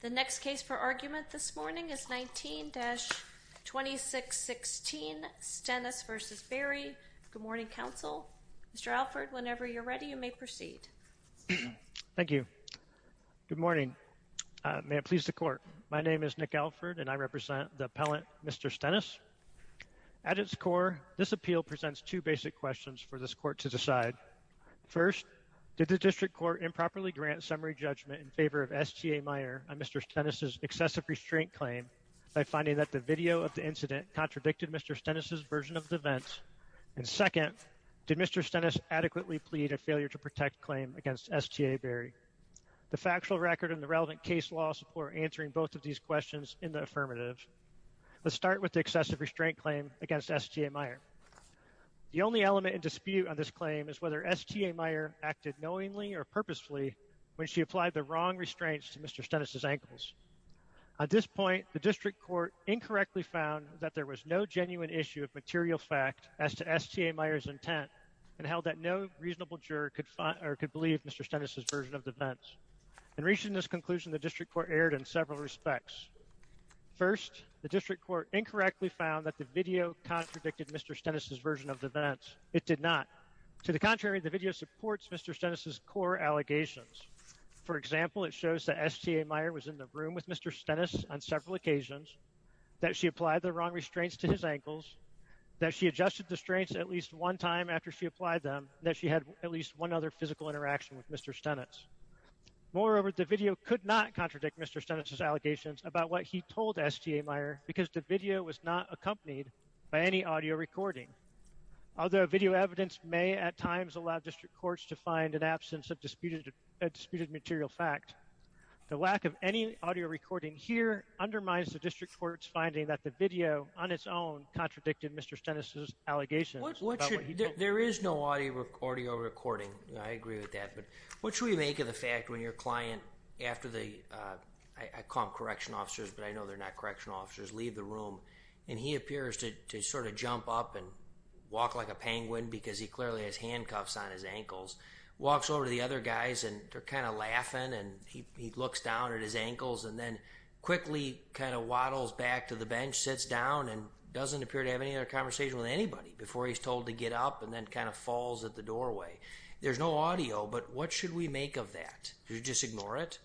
The next case for argument this morning is 19-2616 Stennis v. Berry. Good morning, counsel. Mr. Alford, whenever you're ready, you may proceed. Thank you. Good morning. May it please the court. My name is Nick Alford, and I represent the appellant, Mr. Stennis. At its core, this appeal presents two basic questions for this court to decide. First, did the district court improperly grant summary judgment in favor of STA Meyer on Mr. Stennis' excessive restraint claim by finding that the video of the incident contradicted Mr. Stennis' version of the event? And second, did Mr. Stennis adequately plead a failure-to-protect claim against STA Berry? The factual record and the relevant case law support answering both of these questions in the affirmative. Let's start with the excessive restraint claim against STA Meyer. The only element in dispute on this claim is whether STA Meyer acted knowingly or purposefully when she applied the wrong restraints to Mr. Stennis' ankles. At this point, the district court incorrectly found that there was no genuine issue of material fact as to STA Meyer's intent and held that no reasonable juror could believe Mr. Stennis' version of the events. In reaching this conclusion, the district court erred in several respects. First, the district court incorrectly found that the video contradicted Mr. Stennis' version of the events. It did not. To the contrary, the video supports Mr. Stennis' core allegations. For example, it shows that STA Meyer was in the room with Mr. Stennis on several occasions, that she applied the wrong restraints to his ankles, that she adjusted the restraints at least one time after she applied them, and that she had at least one other physical interaction with Mr. Stennis. Moreover, the video could not contradict Mr. Stennis' allegations about what he told STA Meyer because the video was not accompanied by any audio recording. Although video evidence may at times allow district courts to find an absence of disputed material fact, the lack of any audio recording here undermines the district court's finding that the video on its own contradicted Mr. Stennis' allegations. There is no audio recording, I agree with that, but what should we make of the fact when your client, after the, I call them correction officers but I know they're not correction officers, leave the room and he appears to sort of jump up and walk like a penguin because he clearly has handcuffs on his ankles, walks over to the other guys and they're kind of laughing and he looks down at his ankles and then quickly kind of waddles back to the bench, sits down and doesn't appear to have any other conversation with anybody before he's told to get up and then kind of falls at the doorway. There's no audio, but what should we make of that? Should we just ignore it?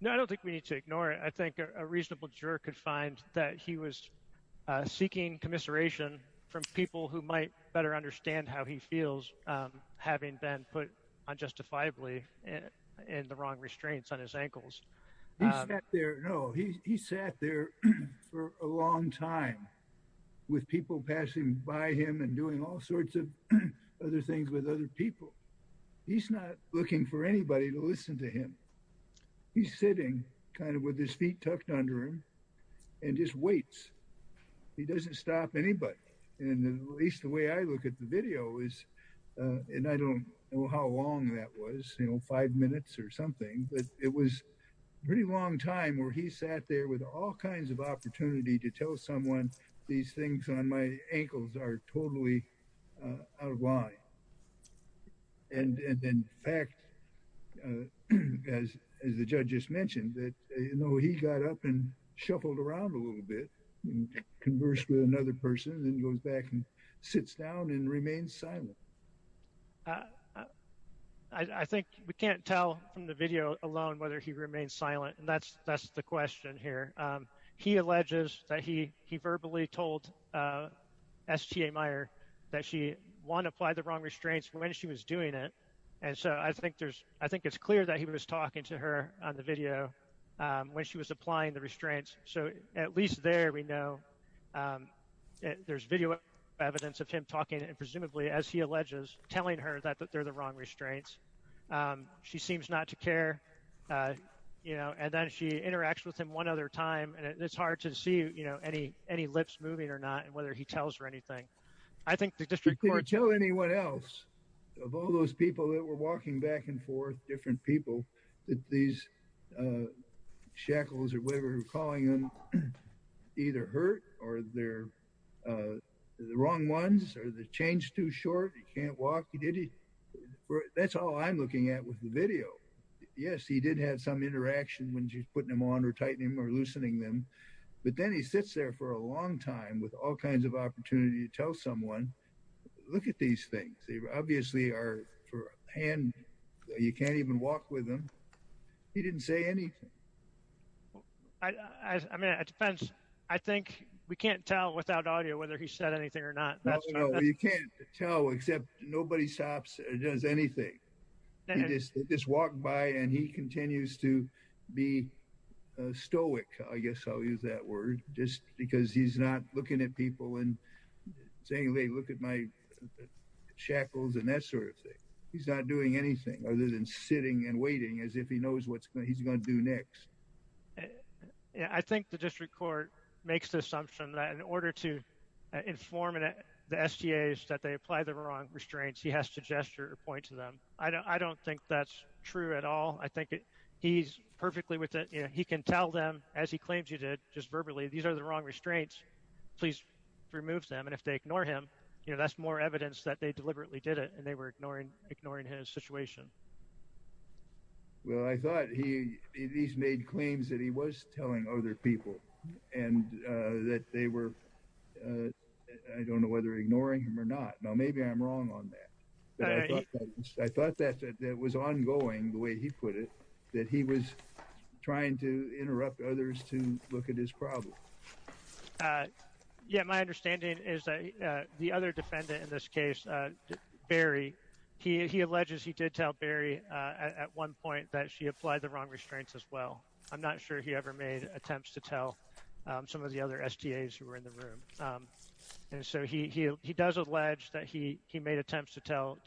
No, I don't think we need to ignore it. I think a reasonable juror could find that he was seeking commiseration from people who might better understand how he feels having been put unjustifiably in the wrong restraints on his ankles. He sat there, no, he sat there for a long time with people passing by him and doing all sorts of other things with other people. He's not looking for anybody to listen to him. He's sitting kind of with his feet tucked under him and just waits. He doesn't stop anybody and at least the way I look at the video is, and I don't know how long that was, you know, five minutes or something, but it was a pretty long time where he sat there with all kinds of opportunity to tell someone these things on my ankles are totally out of line. And in fact, as the judge just mentioned, that, you know, he got up and shuffled around a little bit and conversed with another person and goes back and sits down and remains silent. I think we can't tell from the video alone whether he remains silent. And that's that's the question here. He alleges that he he verbally told S.T.A. Meyer that she won't apply the wrong restraints when she was doing it. And so I think there's I think it's clear that he was talking to her on the video when she was applying the restraints. So at least there, we know there's video evidence of him talking and presumably, as he alleges, telling her that they're the wrong restraints. She seems not to care, you know, and then she interacts with him one other time. And it's hard to see, you know, any any lips moving or not and whether he tells her anything. I think the district court. You could tell anyone else of all those people that were walking back and forth, different people, that these shackles or whatever you're calling them either hurt or they're the wrong ones or the chain's too short. You can't walk. You did it. That's all I'm looking at with the video. Yes, he did have some interaction when she's putting them on or tightening or loosening them. But then he sits there for a long time with all kinds of opportunity to tell someone, look at these things. Obviously, you can't even walk with him. He didn't say anything. I mean, it depends. I think we can't tell without audio whether he said anything or not. You can't tell except nobody stops or does anything. They just walk by and he continues to be stoic. I guess I'll use that word just because he's not looking at people and saying, look at my shackles and that sort of thing. He's not doing anything other than sitting and waiting as if he knows what he's going to do next. I think the district court makes the assumption that in order to inform the STAs that they apply the wrong restraints, he has to gesture or point to them. I don't think that's true at all. I think he's perfectly with it. He can tell them, as he claims you did just verbally, these are the wrong restraints. Please remove them. And if they ignore him, that's more evidence that they deliberately did it and they were ignoring his situation. Well, I thought he's made claims that he was telling other people and that they were, I don't know whether ignoring him or not. Now, maybe I'm wrong on that. I thought that that was ongoing the way he put it, that he was trying to interrupt others to look at his problem. Yeah, my understanding is that the other defendant in this case, Barry, he alleges he did tell Barry at one point that she applied the wrong restraints as well. I'm not sure he ever made attempts to tell some of the other STAs who were in the room. And so he does allege that he made attempts to tell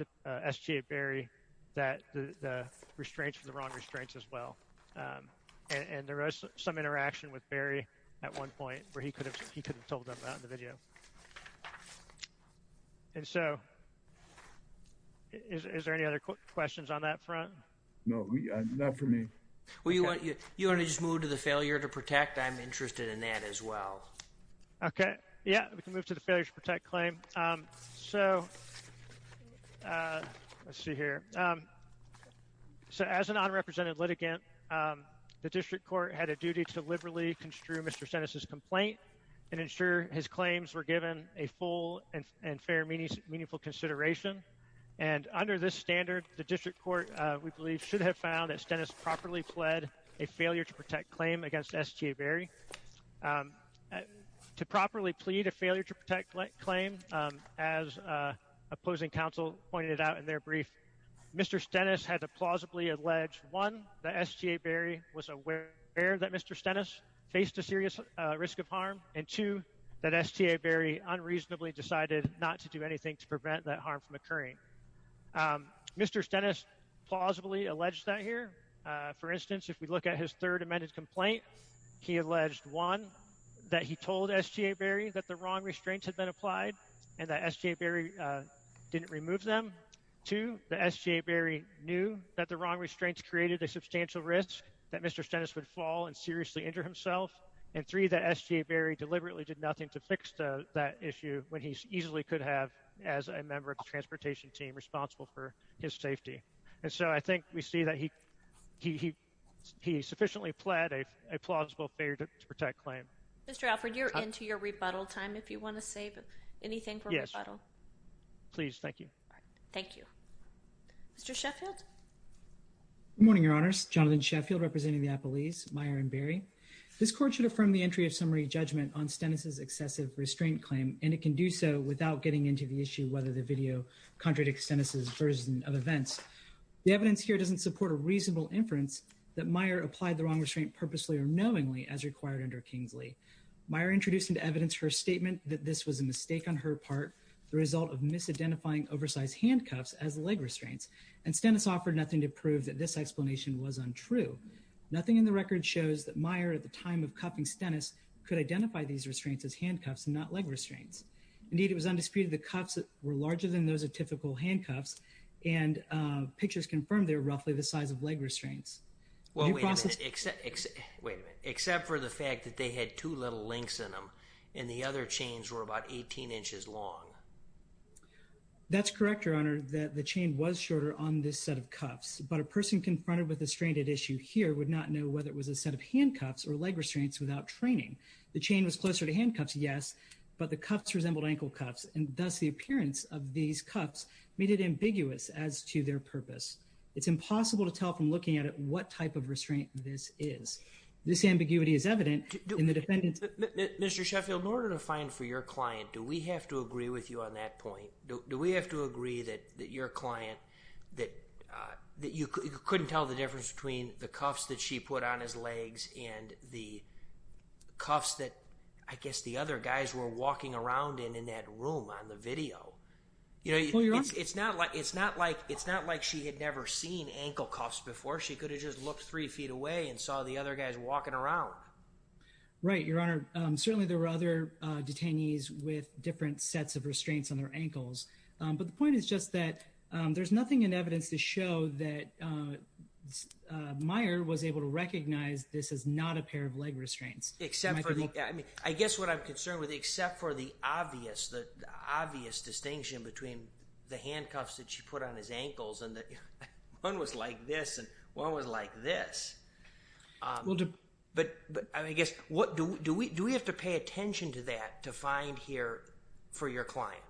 STA Barry that the restraints were the wrong restraints as well. And there was some interaction with Barry at one point where he could have told them that in the video. And so is there any other questions on that front? No, not for me. Well, you want to just move to the failure to protect? I'm interested in that as well. OK. Yeah, we can move to the failure to protect claim. So let's see here. So as an unrepresented litigant, the district court had a duty to liberally construe Mr. Stennis' complaint and ensure his claims were given a full and fair, meaningful consideration. And under this standard, the district court, we believe, should have found that Stennis properly pled a failure to protect claim against STA Barry. To properly plead a failure to protect claim, as opposing counsel pointed out in their brief, Mr. Stennis had to plausibly allege, one, that STA Barry was aware that Mr. Stennis faced a serious risk of harm, and two, that STA Barry unreasonably decided not to do anything to prevent that harm from occurring. Mr. Stennis plausibly alleged that here. For instance, if we look at his third amended complaint, he alleged, one, that he told STA Barry that the wrong restraints had been applied and that STA Barry didn't remove them. Two, that STA Barry knew that the wrong restraints created a substantial risk that Mr. Stennis would fall and seriously injure himself. And three, that STA Barry deliberately did nothing to fix that issue when he easily could have as a member of the transportation team responsible for his safety. And so I think we see that he he he sufficiently pled a plausible failure to protect claim. Mr. Alford, you're into your rebuttal time. If you want to say anything for rebuttal, please. Thank you. Thank you, Mr. Sheffield. Good morning, Your Honors. Jonathan Sheffield representing the appellees Meyer and Barry. This court should affirm the entry of summary judgment on Stennis's excessive restraint claim, and it can do so without getting into the issue whether the video contradicts Stennis's version of events. The evidence here doesn't support a reasonable inference that Meyer applied the wrong restraint purposely or knowingly as required under Kingsley. Meyer introduced into evidence her statement that this was a mistake on her part, the result of misidentifying oversized handcuffs as leg restraints. And Stennis offered nothing to prove that this explanation was untrue. Nothing in the record shows that Meyer, at the time of cuffing Stennis, could identify these restraints as handcuffs and not leg restraints. Indeed, it was undisputed the cuffs were larger than those of typical handcuffs. And pictures confirm they're roughly the size of leg restraints. Well, except except for the fact that they had two little links in them and the other chains were about 18 inches long. That's correct, Your Honor, that the chain was shorter on this set of cuffs, but a person confronted with the stranded issue here would not know whether it was a set of handcuffs or leg restraints without training. The chain was closer to handcuffs, yes, but the cuffs resembled ankle cuffs and thus the appearance of these cuffs made it ambiguous as to their purpose. It's impossible to tell from looking at it what type of restraint this is. This ambiguity is evident in the defendant's. Mr. Sheffield, in order to find for your client, do we have to agree with you on that point? Do we have to agree that your client, that you couldn't tell the difference between the cuffs that she put on his legs and the cuffs that I guess the other guys were walking around in in that room on the video? You know, it's not like it's not like it's not like she had never seen ankle cuffs before. She could have just looked three feet away and saw the other guys walking around. Right, Your Honor. Certainly there were other detainees with different sets of restraints on their ankles. But the point is just that there's nothing in evidence to show that Meyer was able to recognize this is not a pair of leg restraints. Except for the, I mean, I guess what I'm concerned with, except for the obvious, the obvious distinction between the handcuffs that she put on his ankles and that one was like this and one was like this. Well, but I guess what do we do? Do we have to pay attention to that to find here for your client?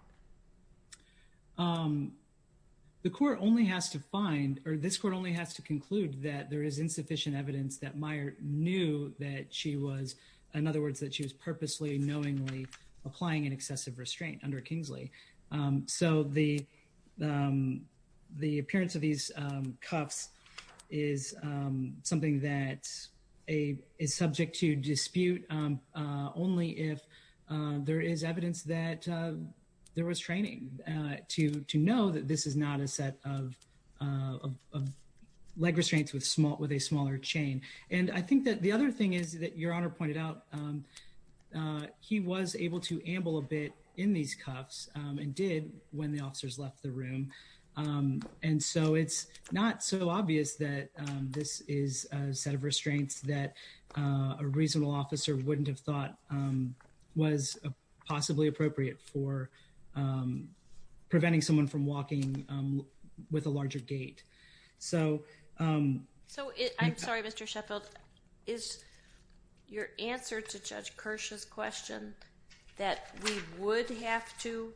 The court only has to find or this court only has to conclude that there is insufficient evidence that Meyer knew that she was, in other words, that she was purposely, knowingly applying an excessive restraint under Kingsley. So the the appearance of these cuffs is something that's a is subject to dispute only if there is evidence that there was training to to know that this is not a set of leg restraints with small with a smaller chain. And I think that the other thing is that Your Honor pointed out he was able to amble a bit in these cuffs and did when the officers left the room. And so it's not so obvious that this is a set of restraints that a reasonable officer wouldn't have thought was possibly appropriate for preventing someone from walking with a larger gait. So. So I'm sorry, Mr. Sheffield. Is your answer to Judge Kirsch's question that we would have to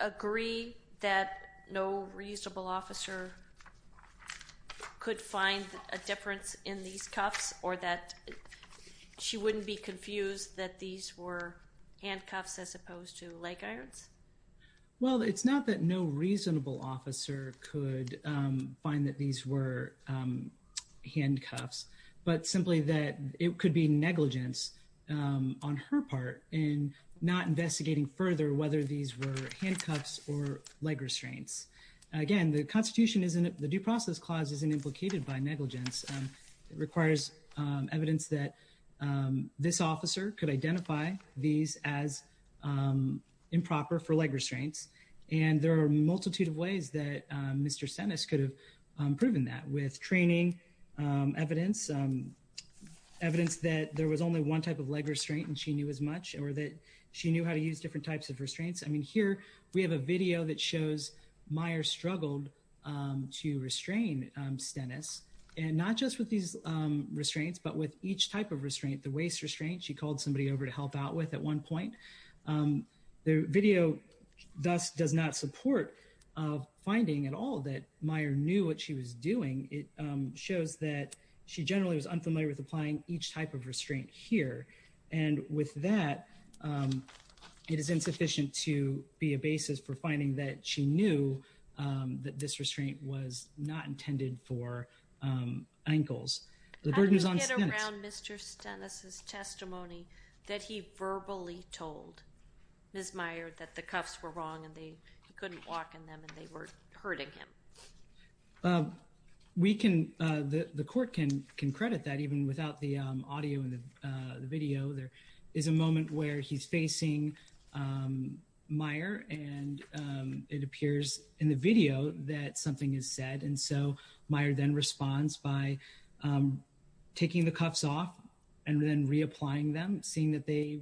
agree that no reasonable officer could find a difference in these cuffs or that she wouldn't be confused that these were handcuffs as opposed to leg irons? Well, it's not that no reasonable officer could find that these were handcuffs, but simply that it could be negligence on her part in not investigating further whether these were handcuffs or leg restraints. Again, the Constitution isn't the Due Process Clause isn't implicated by negligence. It requires evidence that this officer could identify these as improper for leg restraints. And there are a multitude of ways that Mr. Sennis could have proven that with training evidence, evidence that there was only one type of leg restraint and she knew as much or that she knew how to use different types of restraints. I mean, here we have a video that shows Meyer struggled to restrain Stennis and not just with these restraints, but with each type of restraint, the waist restraint she called somebody over to help out with at one point. The video thus does not support finding at all that Meyer knew what she was doing. It shows that she generally was unfamiliar with applying each type of restraint here. And with that, it is insufficient to be a basis for finding that she knew that this restraint was not intended for ankles. The burden is on Stennis. How do you get around Mr. Stennis' testimony that he verbally told Ms. Meyer that the cuffs were wrong and they couldn't walk in them and they were hurting him? We can, the court can credit that even without the audio and the video. There is a moment where he's facing Meyer and it appears in the video that something is said. And so Meyer then responds by taking the cuffs off and then reapplying them, seeing that they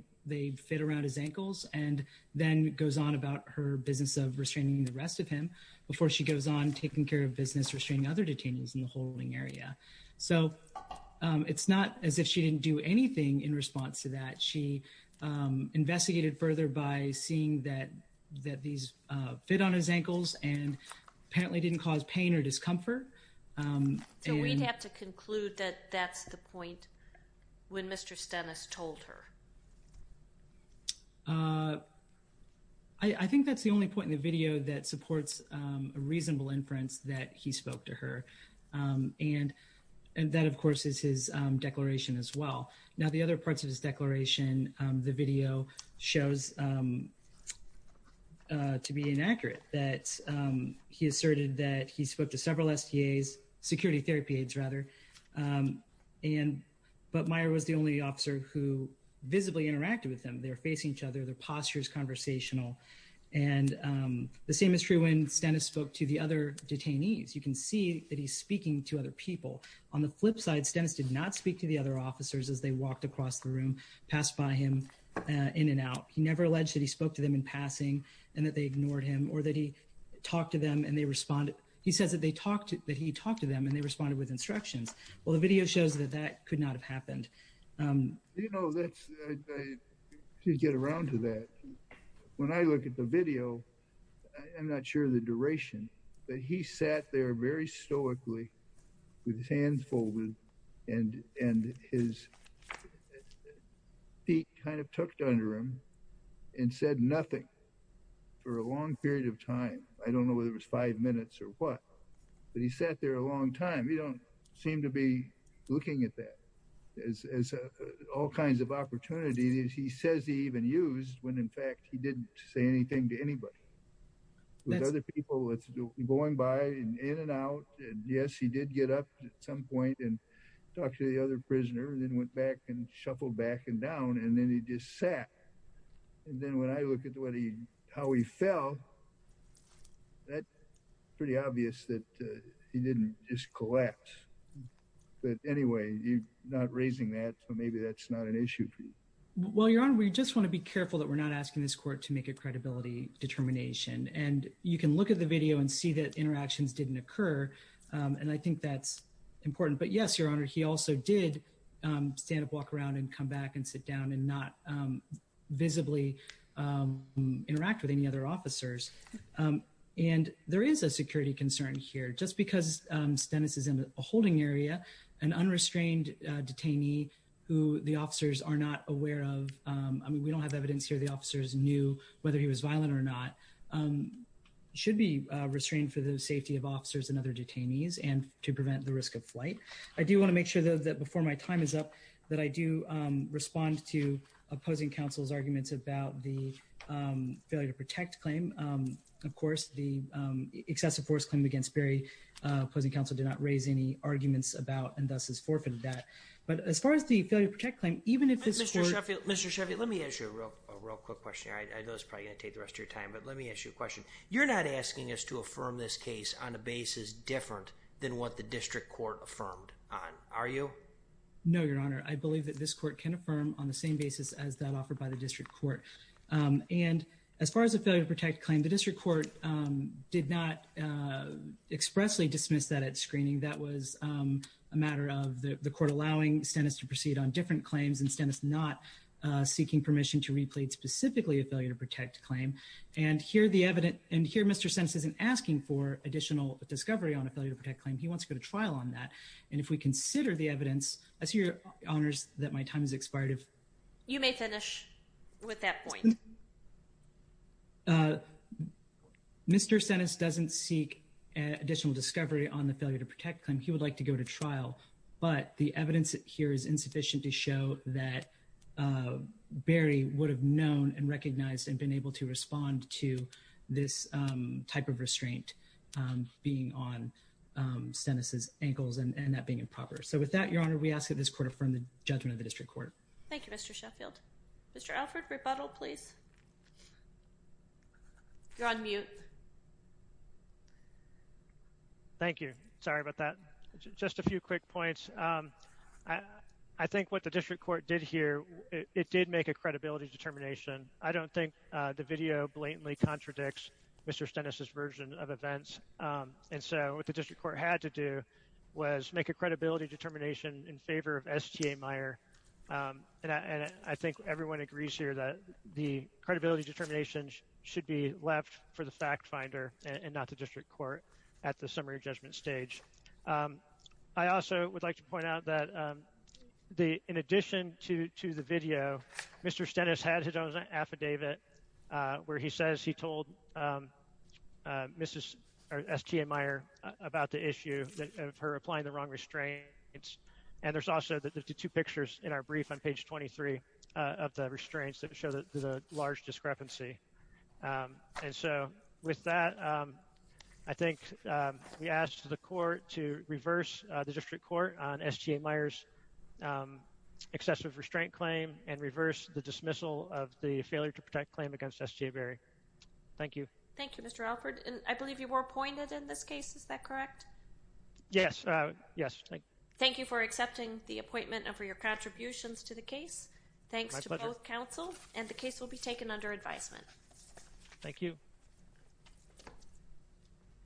fit around his ankles and then goes on about her business of restraining the rest of him before she goes on taking care of business, restraining other detainees in the holding area. So it's not as if she didn't do anything in response to that. She investigated further by seeing that that these fit on his ankles and apparently didn't cause pain or discomfort. So we'd have to conclude that that's the point when Mr. Stennis told her. I think that's the only point in the video that supports a reasonable inference that he spoke to her. And that, of course, is his declaration as well. Now, the other parts of his declaration, the video shows to be inaccurate that he asserted that he spoke to several STAs, security therapy aides rather. And but Meyer was the only officer who visibly interacted with them. They're facing each other. Their posture is conversational. And the same is true when Stennis spoke to the other detainees. You can see that he's speaking to other people on the flip side. Stennis did not speak to the other officers as they walked across the room, passed by him in and out. He never alleged that he spoke to them in passing and that they ignored him or that he talked to them and they responded. He says that they talked that he talked to them and they responded with instructions. Well, the video shows that that could not have happened. You know, let's get around to that. When I look at the video, I'm not sure the duration, but he sat there very stoically with his hands folded and and his feet kind of tucked under him and said nothing for a long period of time. I don't know whether it was five minutes or what, but he sat there a long time. We don't seem to be looking at that as all kinds of opportunities. He says he even used when, in fact, he didn't say anything to anybody. There's other people going by in and out. And yes, he did get up at some point and talk to the other prisoner and then went back and shuffled back and down. And then he just sat. And then when I look at what he how he fell. That's pretty obvious that he didn't just collapse. But anyway, you're not raising that, so maybe that's not an issue for you. Well, your honor, we just want to be careful that we're not asking this court to make a credibility determination. And you can look at the video and see that interactions didn't occur. And I think that's important. But yes, your honor, he also did stand up, walk around and come back and sit down and not visibly interact with any other officers. And there is a security concern here just because Dennis is in a holding area, an unrestrained detainee who the officers are not aware of. I mean, we don't have evidence here. The officers knew whether he was violent or not, should be restrained for the safety of officers and other detainees and to prevent the risk of flight. I do want to make sure, though, that before my time is up, that I do respond to opposing counsel's arguments about the failure to protect claim. Of course, the excessive force claim against Barry opposing counsel did not raise any arguments about and thus has forfeited that. But as far as the failure to protect claim, even if it's Mr. Sheffield, Mr. Sheffield, let me ask you a real quick question. I know it's probably going to take the rest of your time, but let me ask you a question. You're not asking us to affirm this case on a basis different than what the district court affirmed on, are you? No, Your Honor, I believe that this court can affirm on the same basis as that offered by the district court. And as far as the failure to protect claim, the district court did not expressly dismiss that at screening. That was a matter of the court allowing Stennis to proceed on different claims and Stennis not seeking permission to replete specifically a failure to protect claim. And here the evidence and here Mr. Stennis isn't asking for additional discovery on a failure to protect claim. He wants to go to trial on that. And if we consider the evidence, I see, Your Honor, that my time is expired. If you may finish with that point. Mr. Stennis doesn't seek additional discovery on the failure to protect claim, he would like to go to trial. But the evidence here is insufficient to show that Barry would have known and recognized and been able to respond to this type of restraint being on Stennis' ankles and that being improper. So with that, Your Honor, we ask that this court affirm the judgment of the district court. Thank you, Mr. Sheffield. Mr. Alfred, rebuttal, please. You're on mute. Thank you. Sorry about that. Just a few quick points. I think what the district court did here, it did make a credibility determination. I don't think the video blatantly contradicts Mr. Stennis' version of events. And so what the district court had to do was make a credibility determination in favor of S.T.A. Meyer. And I think everyone agrees here that the credibility determinations should be left for the fact finder and not the district court at the summary judgment stage. I also would like to point out that in addition to the video, Mr. Stennis had his own affidavit where he says he told S.T.A. Meyer about the issue of her applying the wrong restraints. And there's also the two pictures in our brief on page 23 of the restraints that show the large discrepancy. And so with that, I think we asked the court to reverse the district court on S.T.A. Meyer's excessive restraint claim and reverse the dismissal of the failure to protect claim against S.T.A. Berry. Thank you. Thank you, Mr. Alfred. And I believe you were appointed in this case. Is that correct? Yes. Yes. Thank you for accepting the appointment and for your contributions to the case. Thanks to both counsel. And the case will be taken under advisement. Thank you.